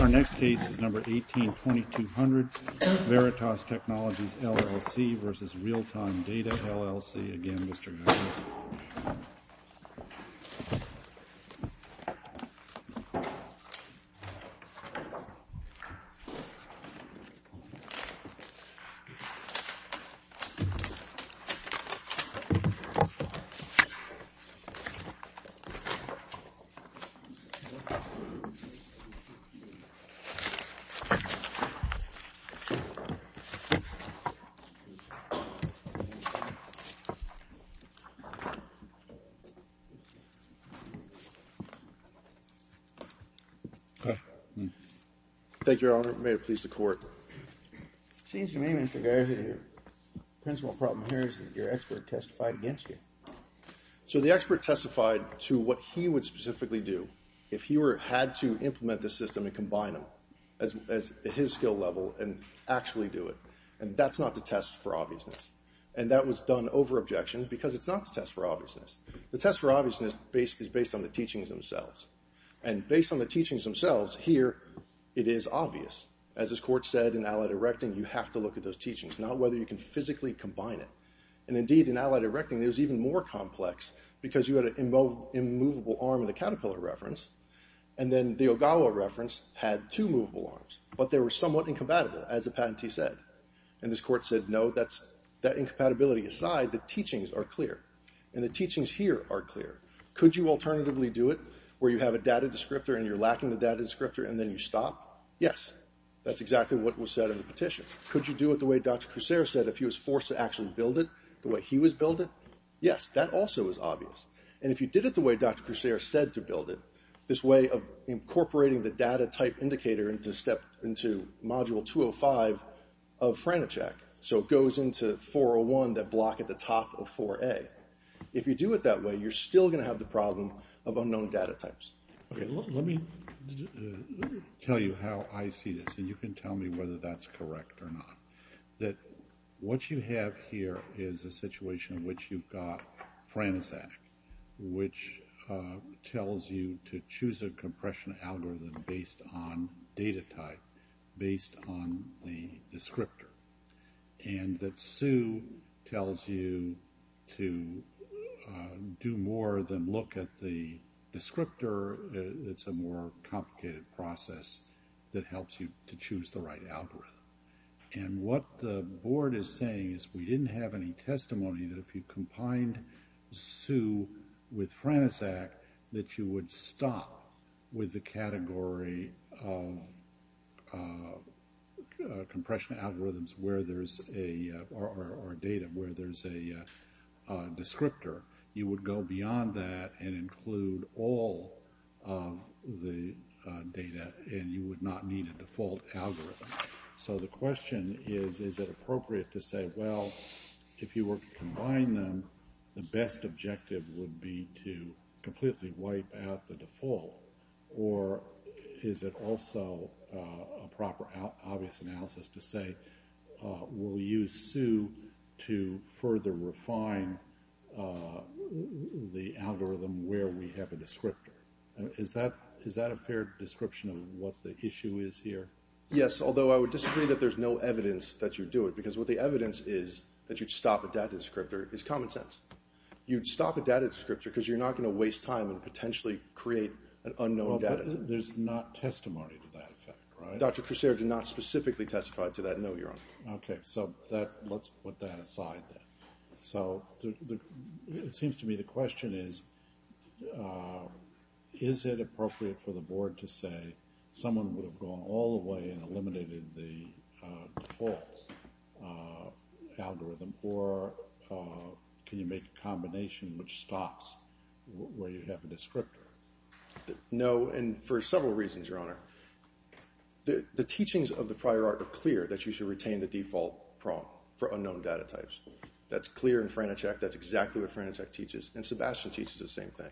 Our next case is number 182200, Veritas Technologies LLC v. Realtime Data LLC. Again, Mr. Nunes. Thank you, Your Honor. May it please the Court. It seems to me, Mr. Garza, your principal problem here is that your expert testified against you. So the expert testified to what he would specifically do if he had to implement this system and combine them at his skill level and actually do it. And that's not to test for obviousness. And that was done over objection because it's not to test for obviousness. The test for obviousness is based on the teachings themselves. And based on the teachings themselves, here, it is obvious. As this Court said in Allied Erecting, you have to look at those teachings, not whether you can physically combine it. And indeed, in Allied Erecting, it was even more complex because you had an immovable arm in the Caterpillar reference. And then the Ogawa reference had two movable arms. But they were somewhat incompatible, as the patentee said. And this Court said, no, that incompatibility aside, the teachings are clear. And the teachings here are clear. Could you alternatively do it where you have a data descriptor and you're lacking the data descriptor and then you stop? Yes. That's exactly what was said in the petition. Could you do it the way Dr. Kucera said if he was forced to actually build it, the way he was built it? Yes. That also is obvious. And if you did it the way Dr. Kucera said to build it, this way of incorporating the data type indicator into Module 205 of FRANACHECK, so it goes into 401, that block at the top of 4A, if you do it that way, you're still going to have the problem of unknown data types. Okay. Let me tell you how I see this. And you can tell me whether that's correct or not. That what you have here is a situation in which you've got FRANACHECK, which tells you to choose a compression algorithm based on data type, based on the descriptor. And that SU tells you to do more than look at the descriptor. It's a more complicated process that helps you to choose the right algorithm. And what the board is saying is we didn't have any testimony that if you combined SU with FRANACHECK, that you would stop with the category of compression algorithms or data where there's a descriptor. You would go beyond that and include all of the data, and you would not need a default algorithm. So the question is, is it appropriate to say, well, if you were to combine them, the best objective would be to completely wipe out the default, or is it also a proper, obvious analysis to say, we'll use SU to further refine the algorithm where we have a descriptor. Is that a fair description of what the issue is here? Yes, although I would disagree that there's no evidence that you do it, because what the evidence is that you'd stop a data descriptor is common sense. You'd stop a data descriptor because you're not going to waste time and potentially create an unknown data type. There's not testimony to that effect, right? Dr. Crusair did not specifically testify to that, no, Your Honor. Okay, so let's put that aside then. So it seems to me the question is, is it appropriate for the board to say, someone would have gone all the way and eliminated the default algorithm, or can you make a combination which stops where you have a descriptor? No, and for several reasons, Your Honor. The teachings of the prior art are clear that you should retain the default prong for unknown data types. That's clear in Franachek, that's exactly what Franachek teaches, and Sebastian teaches the same thing.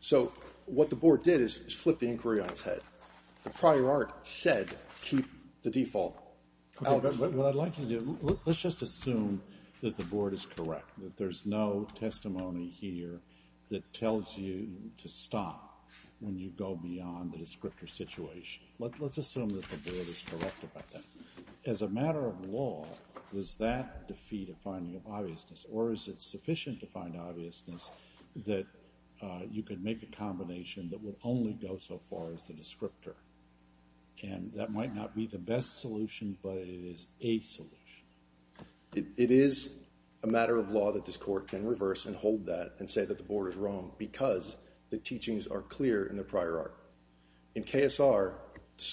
So what the board did is flip the inquiry on its head. The prior art said keep the default algorithm. What I'd like you to do, let's just assume that the board is correct, that there's no testimony here that tells you to stop when you go beyond the descriptor situation. Let's assume that the board is correct about that. As a matter of law, was that defeat a finding of obviousness, or is it sufficient to find obviousness that you can make a combination that would only go so far as the descriptor? And that might not be the best solution, but it is a solution. It is a matter of law that this court can reverse and hold that and say that the board is wrong because the teachings are clear in the prior art. In KSR,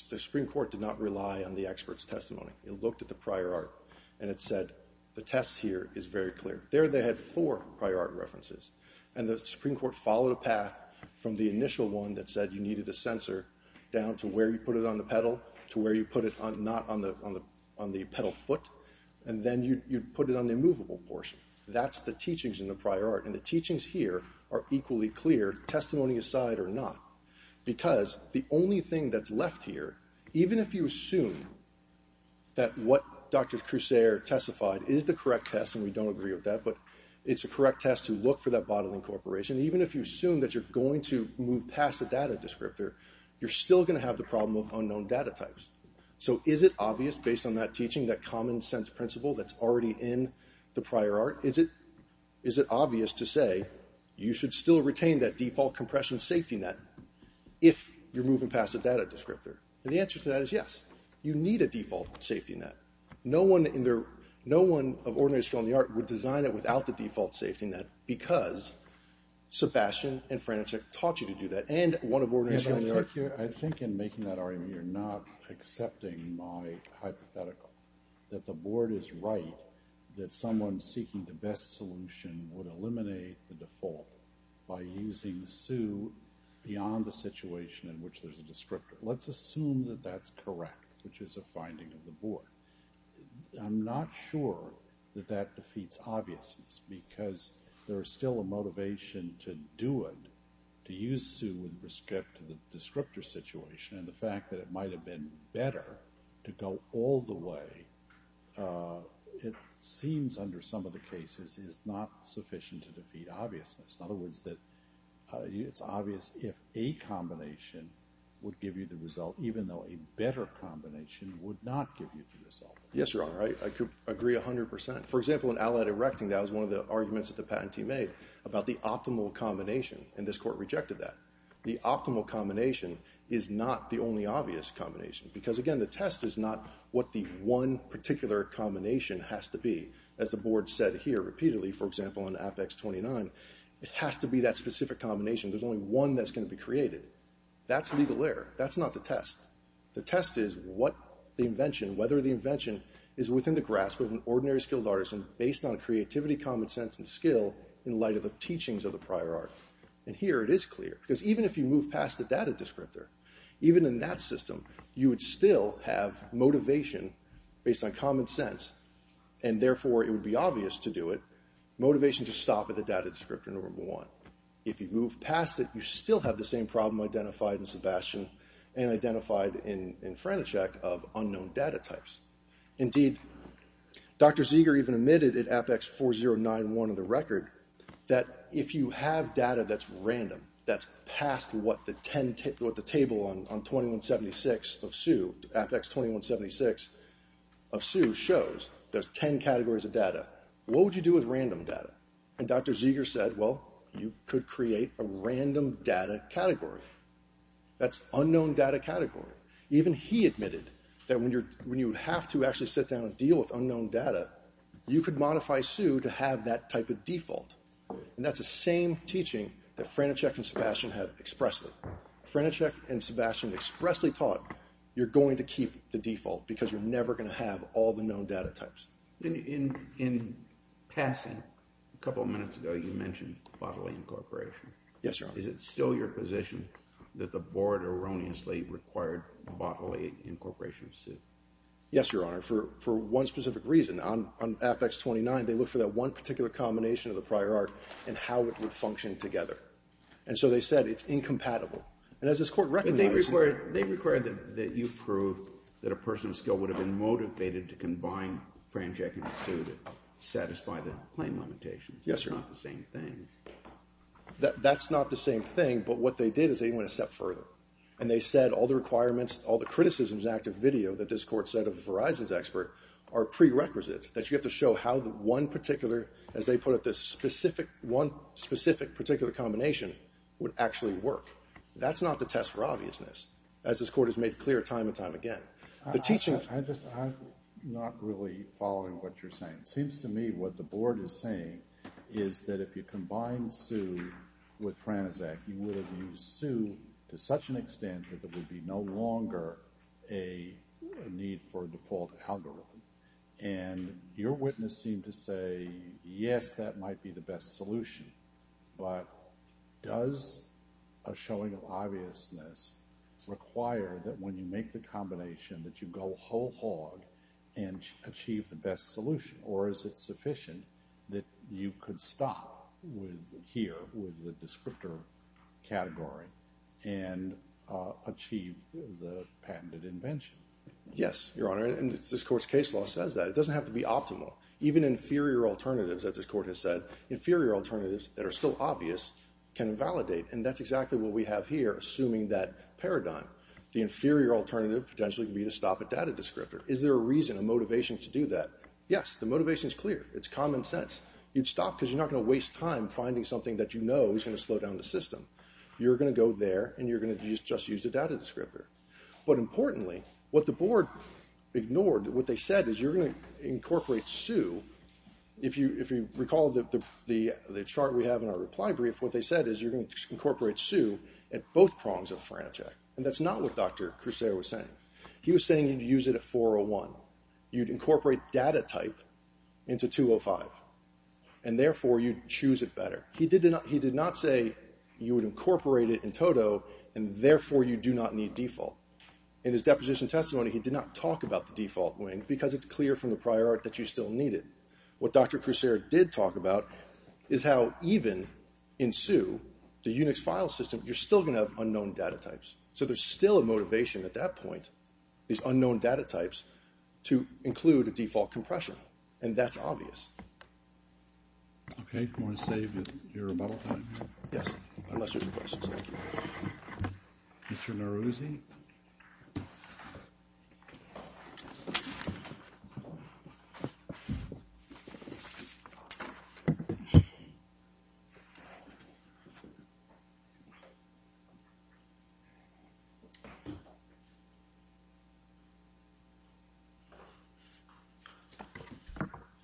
the Supreme Court did not rely on the expert's testimony. It looked at the prior art and it said the test here is very clear. There they had four prior art references, and the Supreme Court followed a path from the initial one that said you needed a sensor down to where you put it on the pedal to where you put it not on the pedal foot, and then you put it on the immovable portion. That's the teachings in the prior art, and the teachings here are equally clear, testimony aside or not, because the only thing that's left here, even if you assume that what Dr. Crusair testified is the correct test, and we don't agree with that, but it's a correct test to look for that bodily incorporation, even if you assume that you're going to move past the data descriptor, you're still going to have the problem of unknown data types. So is it obvious, based on that teaching, that common sense principle that's already in the prior art? Is it obvious to say you should still retain that default compression safety net if you're moving past the data descriptor? And the answer to that is yes. You need a default safety net. No one of ordinary skill in the art would design it without the default safety net because Sebastian and Franticek taught you to do that, and one of ordinary skill in the art. I think in making that argument you're not accepting my hypothetical, that the board is right that someone seeking the best solution would eliminate the default by using SU beyond the situation in which there's a descriptor. Let's assume that that's correct, which is a finding of the board. I'm not sure that that defeats obviousness because there is still a motivation to do it, to use SU in respect to the descriptor situation, and the fact that it might have been better to go all the way, it seems under some of the cases is not sufficient to defeat obviousness. In other words, it's obvious if a combination would give you the result even though a better combination would not give you the result. Yes, Your Honor. I agree 100%. For example, in Allied Erecting, that was one of the arguments that the patentee made about the optimal combination, and this court rejected that. The optimal combination is not the only obvious combination because, again, the test is not what the one particular combination has to be. As the board said here repeatedly, for example, in Apex 29, it has to be that specific combination. There's only one that's going to be created. That's legal error. That's not the test. The test is whether the invention is within the grasp of an ordinary skilled artisan based on creativity, common sense, and skill in light of the teachings of the prior art. And here it is clear because even if you move past the data descriptor, even in that system, you would still have motivation based on common sense, and therefore it would be obvious to do it. Motivation to stop at the data descriptor number one. If you move past it, you still have the same problem identified in Sebastian and identified in Frantisek of unknown data types. Indeed, Dr. Zeger even admitted at Apex 4091 of the record that if you have data that's random, that's past what the table on 2176 of Sue, Apex 2176 of Sue shows, there's ten categories of data. What would you do with random data? And Dr. Zeger said, well, you could create a random data category. That's unknown data category. Even he admitted that when you have to actually sit down and deal with unknown data, you could modify Sue to have that type of default. And that's the same teaching that Frantisek and Sebastian have expressly. Frantisek and Sebastian expressly taught you're going to keep the default because you're never going to have all the known data types. In passing, a couple of minutes ago you mentioned bodily incorporation. Yes, Your Honor. Is it still your position that the board erroneously required bodily incorporation of Sue? Yes, Your Honor. For one specific reason, on Apex 29, they looked for that one particular combination of the prior art and how it would function together. And so they said it's incompatible. And as this Court recognized— But they required that you prove that a person of skill would have been motivated to combine Frantisek and Sue to satisfy the claim limitations. Yes, Your Honor. That's not the same thing. That's not the same thing, but what they did is they went a step further. And they said all the requirements, all the criticisms in active video that this Court said of Verizon's expert are prerequisites, that you have to show how one particular, as they put it, one specific particular combination would actually work. That's not the test for obviousness, as this Court has made clear time and time again. I'm not really following what you're saying. It seems to me what the board is saying is that if you combine Sue with Frantisek, you would have used Sue to such an extent that there would be no longer a need for a default algorithm. And your witness seemed to say, yes, that might be the best solution. But does a showing of obviousness require that when you make the combination that you go whole hog and achieve the best solution? Or is it sufficient that you could stop here with the descriptor category and achieve the patented invention? Yes, Your Honor, and this Court's case law says that. It doesn't have to be optimal. Even inferior alternatives, as this Court has said, inferior alternatives that are still obvious can validate. And that's exactly what we have here, assuming that paradigm. The inferior alternative potentially could be to stop a data descriptor. Is there a reason, a motivation to do that? Yes, the motivation is clear. It's common sense. You'd stop because you're not going to waste time finding something that you know is going to slow down the system. You're going to go there, and you're going to just use the data descriptor. But importantly, what the board ignored, what they said is you're going to incorporate Sue. If you recall the chart we have in our reply brief, what they said is you're going to incorporate Sue at both prongs of Frantisek. And that's not what Dr. Crusair was saying. He was saying you'd use it at 401. You'd incorporate data type into 205, and therefore you'd choose it better. He did not say you would incorporate it in toto, and therefore you do not need default. In his deposition testimony, he did not talk about the default wing because it's clear from the prior art that you still need it. What Dr. Crusair did talk about is how even in Sue, the Unix file system, you're still going to have unknown data types. So there's still a motivation at that point. These unknown data types to include a default compression, and that's obvious. Okay. You want to save your rebuttal time? Yes, unless there's a question. Thank you. Mr. Naruzi?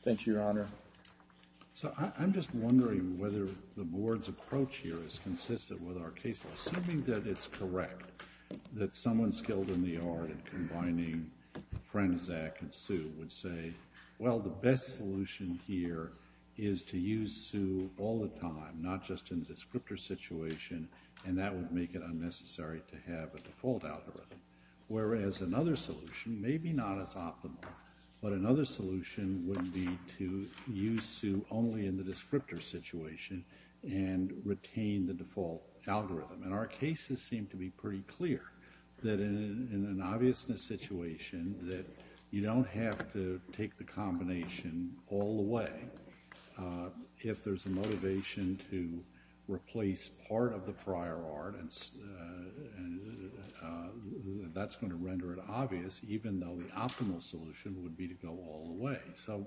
Thank you, Your Honor. So I'm just wondering whether the board's approach here is consistent with our case. Assuming that it's correct that someone skilled in the art of combining Frantisek and Sue would say, well, the best solution here is to use Sue all the time, not just in the descriptor situation, and that would make it unnecessary to have a default algorithm. Whereas another solution, maybe not as optimal, but another solution would be to use Sue only in the descriptor situation and retain the default algorithm. And our cases seem to be pretty clear that in an obviousness situation that you don't have to take the combination all the way. If there's a motivation to replace part of the prior art, that's going to render it obvious, even though the optimal solution would be to go all the way. So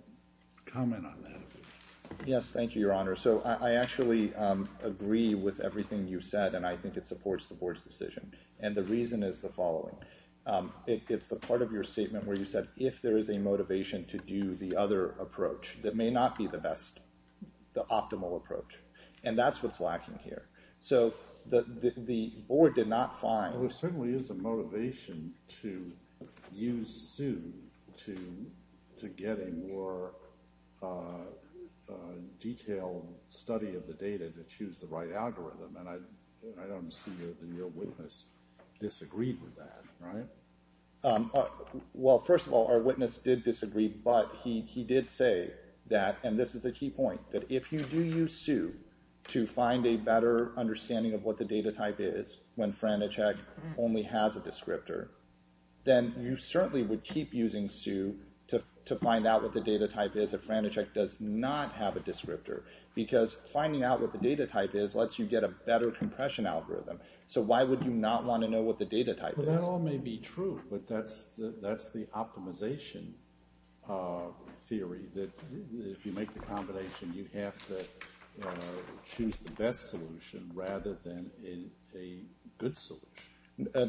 comment on that. Yes, thank you, Your Honor. So I actually agree with everything you said, and I think it supports the board's decision. And the reason is the following. It's the part of your statement where you said, if there is a motivation to do the other approach that may not be the best, the optimal approach, and that's what's lacking here. So the board did not find – Well, there certainly is a motivation to use Sue to get a more detailed study of the data to choose the right algorithm, and I don't see that the real witness disagreed with that, right? Well, first of all, our witness did disagree, but he did say that, and this is the key point, that if you do use Sue to find a better understanding of what the data type is when Franachek only has a descriptor, then you certainly would keep using Sue to find out what the data type is if Franachek does not have a descriptor, because finding out what the data type is lets you get a better compression algorithm. So why would you not want to know what the data type is? Well, that all may be true, but that's the optimization theory, that if you make the combination, you have to choose the best solution rather than a good solution.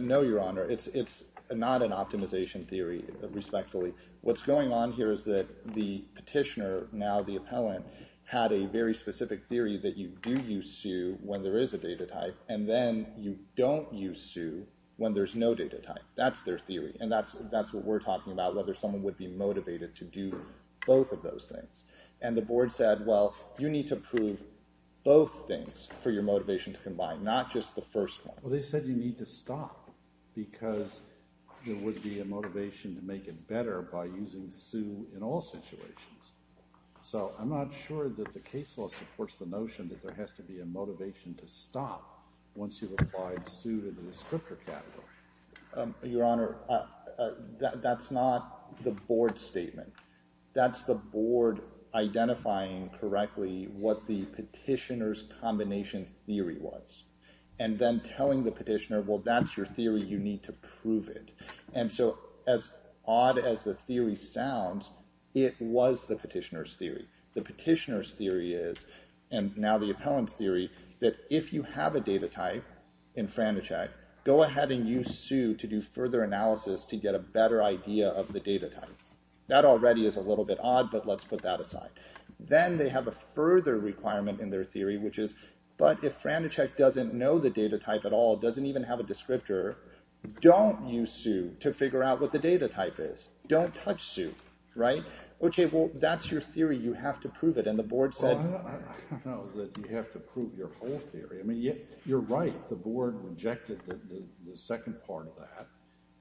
No, Your Honor. It's not an optimization theory, respectfully. What's going on here is that the petitioner, now the appellant, had a very specific theory that you do use Sue when there is a data type, and then you don't use Sue when there's no data type. That's their theory, and that's what we're talking about, whether someone would be motivated to do both of those things. And the board said, well, you need to prove both things for your motivation to combine, not just the first one. Well, they said you need to stop, because there would be a motivation to make it better by using Sue in all situations. So I'm not sure that the case law supports the notion that there has to be a motivation to stop once you've applied Sue to the descriptor category. Your Honor, that's not the board statement. That's the board identifying correctly what the petitioner's combination theory was, and then telling the petitioner, well, that's your theory, you need to prove it. The petitioner's theory is, and now the appellant's theory, that if you have a data type in Franticek, go ahead and use Sue to do further analysis to get a better idea of the data type. That already is a little bit odd, but let's put that aside. Then they have a further requirement in their theory, which is, but if Franticek doesn't know the data type at all, doesn't even have a descriptor, don't use Sue to figure out what the data type is. Don't touch Sue, right? Okay, well, that's your theory, you have to prove it, and the board said... Well, I don't know that you have to prove your whole theory. I mean, you're right, the board rejected the second part of that,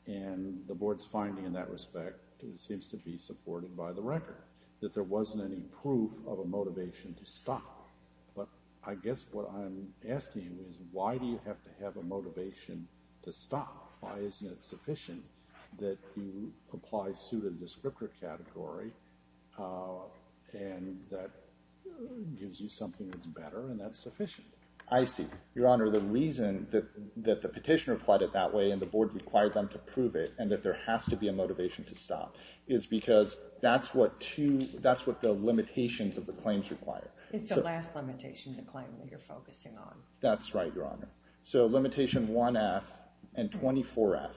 and the board's finding in that respect seems to be supported by the record, that there wasn't any proof of a motivation to stop. But I guess what I'm asking you is, why do you have to have a motivation to stop? Why isn't it sufficient that you apply Sue to the descriptor category and that gives you something that's better and that's sufficient? I see. Your Honor, the reason that the petitioner applied it that way and the board required them to prove it and that there has to be a motivation to stop is because that's what the limitations of the claims require. It's the last limitation to claim that you're focusing on. That's right, Your Honor. So limitation 1F and 24F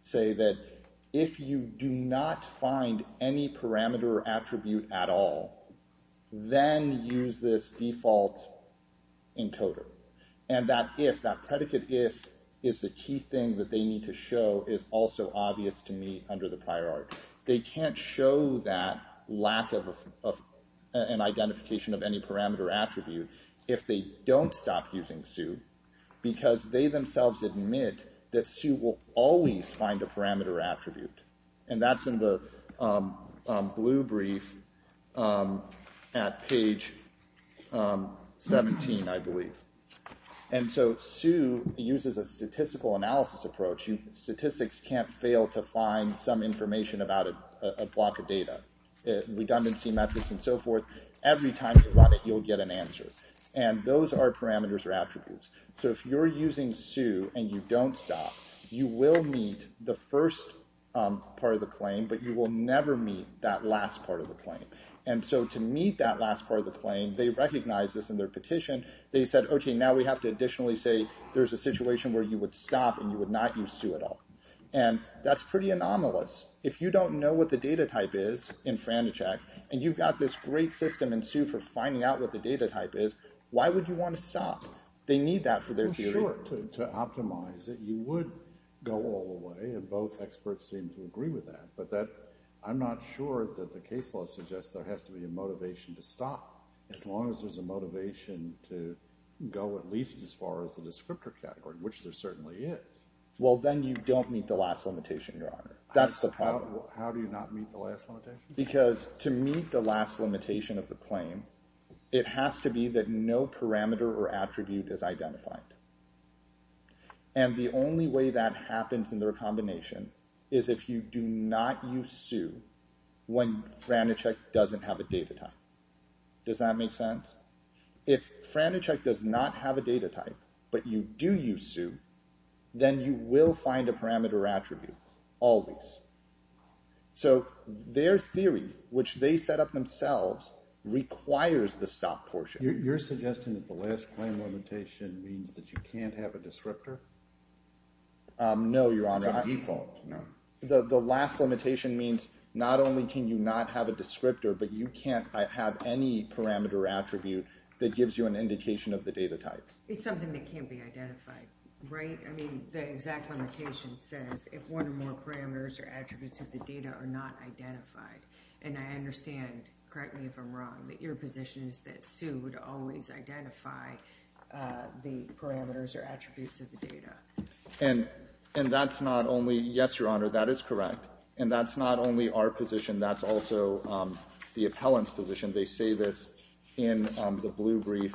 say that if you do not find any parameter attribute at all, then use this default encoder. And that if, that predicate if, is the key thing that they need to show is also obvious to me under the prior art. They can't show that lack of an identification of any parameter attribute if they don't stop using Sue because they themselves admit that Sue will always find a parameter attribute. And that's in the blue brief at page 17, I believe. And so Sue uses a statistical analysis approach. Statistics can't fail to find some information about a block of data. Redundancy methods and so forth. Every time you run it, you'll get an answer. And those are parameters or attributes. So if you're using Sue and you don't stop, you will meet the first part of the claim, but you will never meet that last part of the claim. And so to meet that last part of the claim, they recognize this in their petition. They said, okay, now we have to additionally say there's a situation where you would stop and you would not use Sue at all. And that's pretty anomalous. If you don't know what the data type is in Frantichek and you've got this great system in Sue for finding out what the data type is, why would you want to stop? They need that for their theory. Sure, to optimize it, you would go all the way, and both experts seem to agree with that. But I'm not sure that the case law suggests there has to be a motivation to stop as long as there's a motivation to go at least as far as the descriptor category, which there certainly is. Well, then you don't meet the last limitation, Your Honor. That's the problem. How do you not meet the last limitation? Because to meet the last limitation of the claim, it has to be that no parameter or attribute is identified. And the only way that happens in their combination is if you do not use Sue when Frantichek doesn't have a data type. Does that make sense? If Frantichek does not have a data type but you do use Sue, then you will find a parameter or attribute, always. So their theory, which they set up themselves, requires the stop portion. You're suggesting that the last claim limitation means that you can't have a descriptor? No, Your Honor. It's a default. The last limitation means not only can you not have a descriptor, but you can't have any parameter or attribute that gives you an indication of the data type. It's something that can't be identified, right? The exact limitation says if one or more parameters or attributes of the data are not identified. And I understand, correct me if I'm wrong, that your position is that Sue would always identify the parameters or attributes of the data. Yes, Your Honor, that is correct. And that's not only our position, that's also the appellant's position. They say this in the blue brief,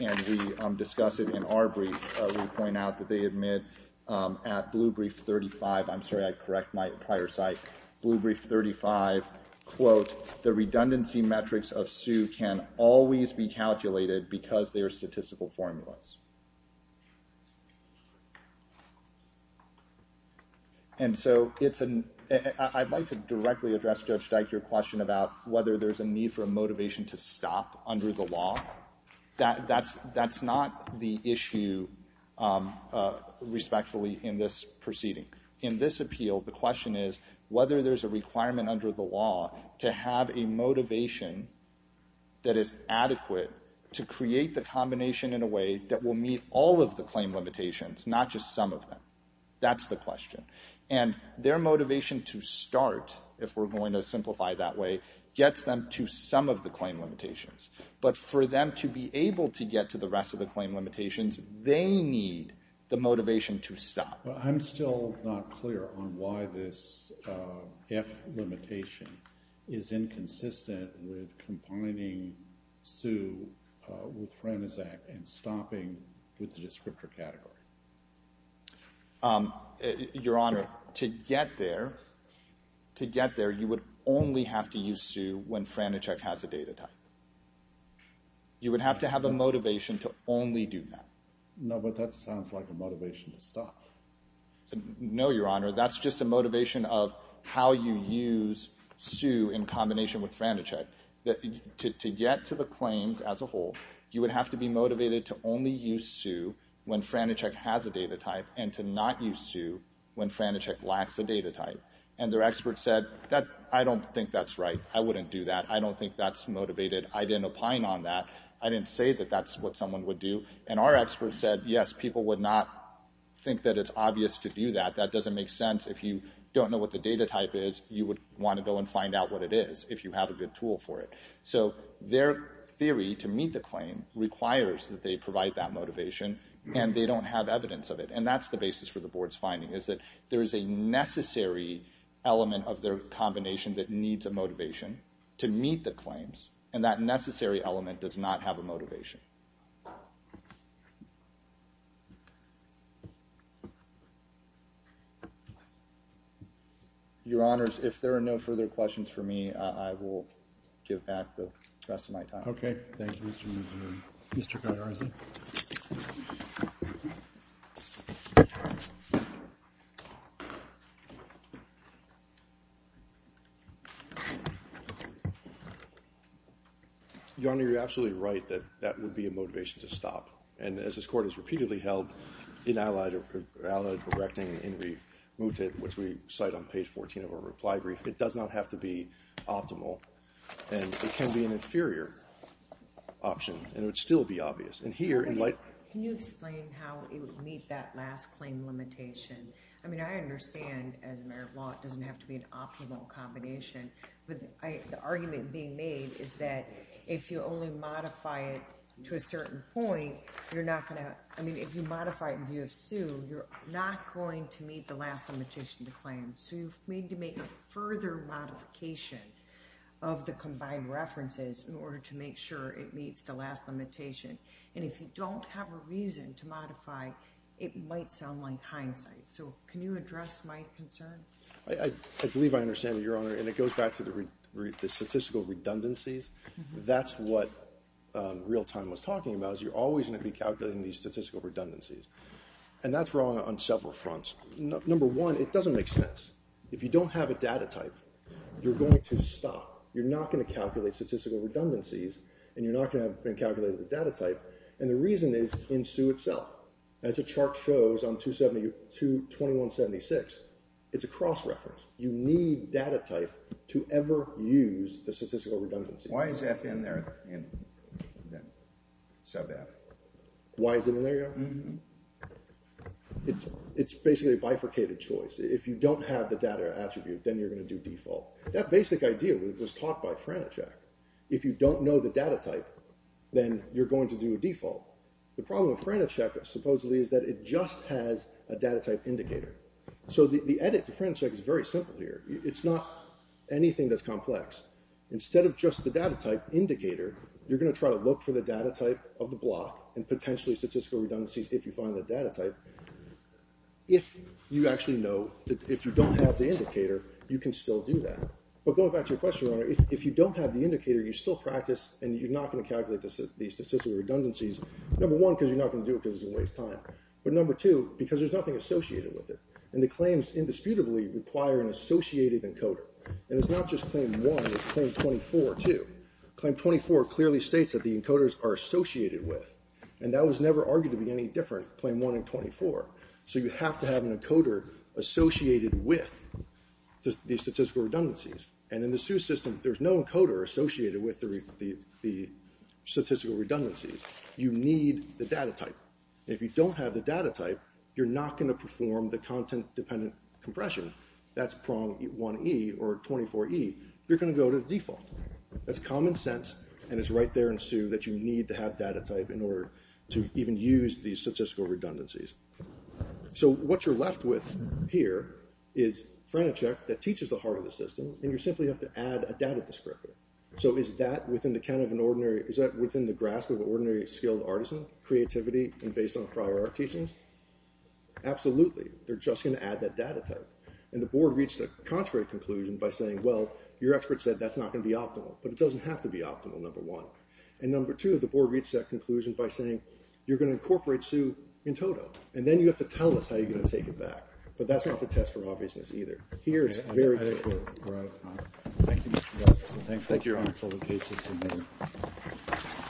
and we discuss it in our brief. We point out that they admit at blue brief 35. I'm sorry, I correct my prior site. Blue brief 35, quote, the redundancy metrics of Sue can always be calculated because they are statistical formulas. And so I'd like to directly address Judge Dyke, your question about whether there's a need for a motivation to stop under the law. That's not the issue, respectfully, in this proceeding. In this appeal, the question is whether there's a requirement under the law to have a motivation that is adequate to create the combination in a way that will meet all of the claim limitations, not just some of them. That's the question. And their motivation to start, if we're going to simplify it that way, gets them to some of the claim limitations. But for them to be able to get to the rest of the claim limitations, they need the motivation to stop. Well, I'm still not clear on why this F limitation is inconsistent with combining Sue with Franacek and stopping with the descriptor category. Your Honor, to get there, you would only have to use Sue when Franacek has a data type. You would have to have a motivation to only do that. No, but that sounds like a motivation to stop. No, Your Honor, that's just a motivation of how you use Sue in combination with Franacek. To get to the claims as a whole, you would have to be motivated to only use Sue when Franacek has a data type and to not use Sue when Franacek lacks a data type. And their expert said, I don't think that's right. I wouldn't do that. I don't think that's motivated. I didn't opine on that. I didn't say that that's what someone would do. And our expert said, yes, people would not think that it's obvious to do that. That doesn't make sense. If you don't know what the data type is, you would want to go and find out what it is if you have a good tool for it. So their theory to meet the claim requires that they provide that motivation, and they don't have evidence of it. And that's the basis for the board's finding is that there is a necessary element of their combination that needs a motivation to meet the claims, Your Honor, if there are no further questions for me, I will give back the rest of my time. Okay. Thank you. Any other questions of Mr. Garza? Your Honor, you're absolutely right that that would be a motivation to stop. And as this court has repeatedly held, in allied erecting in remutet, which we cite on page 14 of our reply brief, it does not have to be optimal. And it can be an inferior option. And it would still be obvious. And here in light of... Can you explain how it would meet that last claim limitation? I mean, I understand, as a matter of law, it doesn't have to be an optimal combination. But the argument being made is that if you only modify it to a certain point, you're not going to – I mean, if you modify it in view of sue, you're not going to meet the last limitation to claim. So you need to make a further modification of the combined references in order to make sure it meets the last limitation. And if you don't have a reason to modify, it might sound like hindsight. So can you address my concern? I believe I understand that, Your Honor. And it goes back to the statistical redundancies. That's what real time was talking about, is you're always going to be calculating these statistical redundancies. And that's wrong on several fronts. Number one, it doesn't make sense. If you don't have a data type, you're going to stop. You're not going to calculate statistical redundancies, and you're not going to have been calculating the data type. And the reason is in sue itself. As the chart shows on 221.76, it's a cross-reference. You need data type to ever use the statistical redundancy. Sub F. Why is it in there, Your Honor? It's basically a bifurcated choice. If you don't have the data attribute, then you're going to do default. That basic idea was taught by Franachek. If you don't know the data type, then you're going to do a default. The problem with Franachek, supposedly, is that it just has a data type indicator. So the edit to Franachek is very simple here. It's not anything that's complex. Instead of just the data type indicator, you're going to try to look for the data type of the block and potentially statistical redundancies if you find the data type. If you actually know, if you don't have the indicator, you can still do that. But going back to your question, Your Honor, if you don't have the indicator, you still practice, and you're not going to calculate the statistical redundancies. Number one, because you're not going to do it because it's a waste of time. But number two, because there's nothing associated with it. And the claims, indisputably, require an associated encoder. And it's not just claim one, it's claim 24 too. Claim 24 clearly states that the encoders are associated with. And that was never argued to be any different, claim one and 24. So you have to have an encoder associated with the statistical redundancies. And in the SUE system, there's no encoder associated with the statistical redundancies. You need the data type. If you don't have the data type, you're not going to perform the content-dependent compression. That's prong 1E or 24E. You're going to go to default. That's common sense, and it's right there in SUE that you need to have data type in order to even use these statistical redundancies. So what you're left with here is Frenichek that teaches the heart of the system, and you simply have to add a data descriptor. So is that within the grasp of an ordinary skilled artisan, creativity, and based on prior art teachings? Absolutely. They're just going to add that data type. And the board reached a contrary conclusion by saying, well, your expert said that's not going to be optimal, but it doesn't have to be optimal, number one. And number two, the board reached that conclusion by saying, you're going to incorporate SUE in total, and then you have to tell us how you're going to take it back. But that's not the test for obviousness either. Here it's very clear. All right. All right. Thank you, Mr. Douglas. Thank you. Thank you, Your Honor. This case is submitted.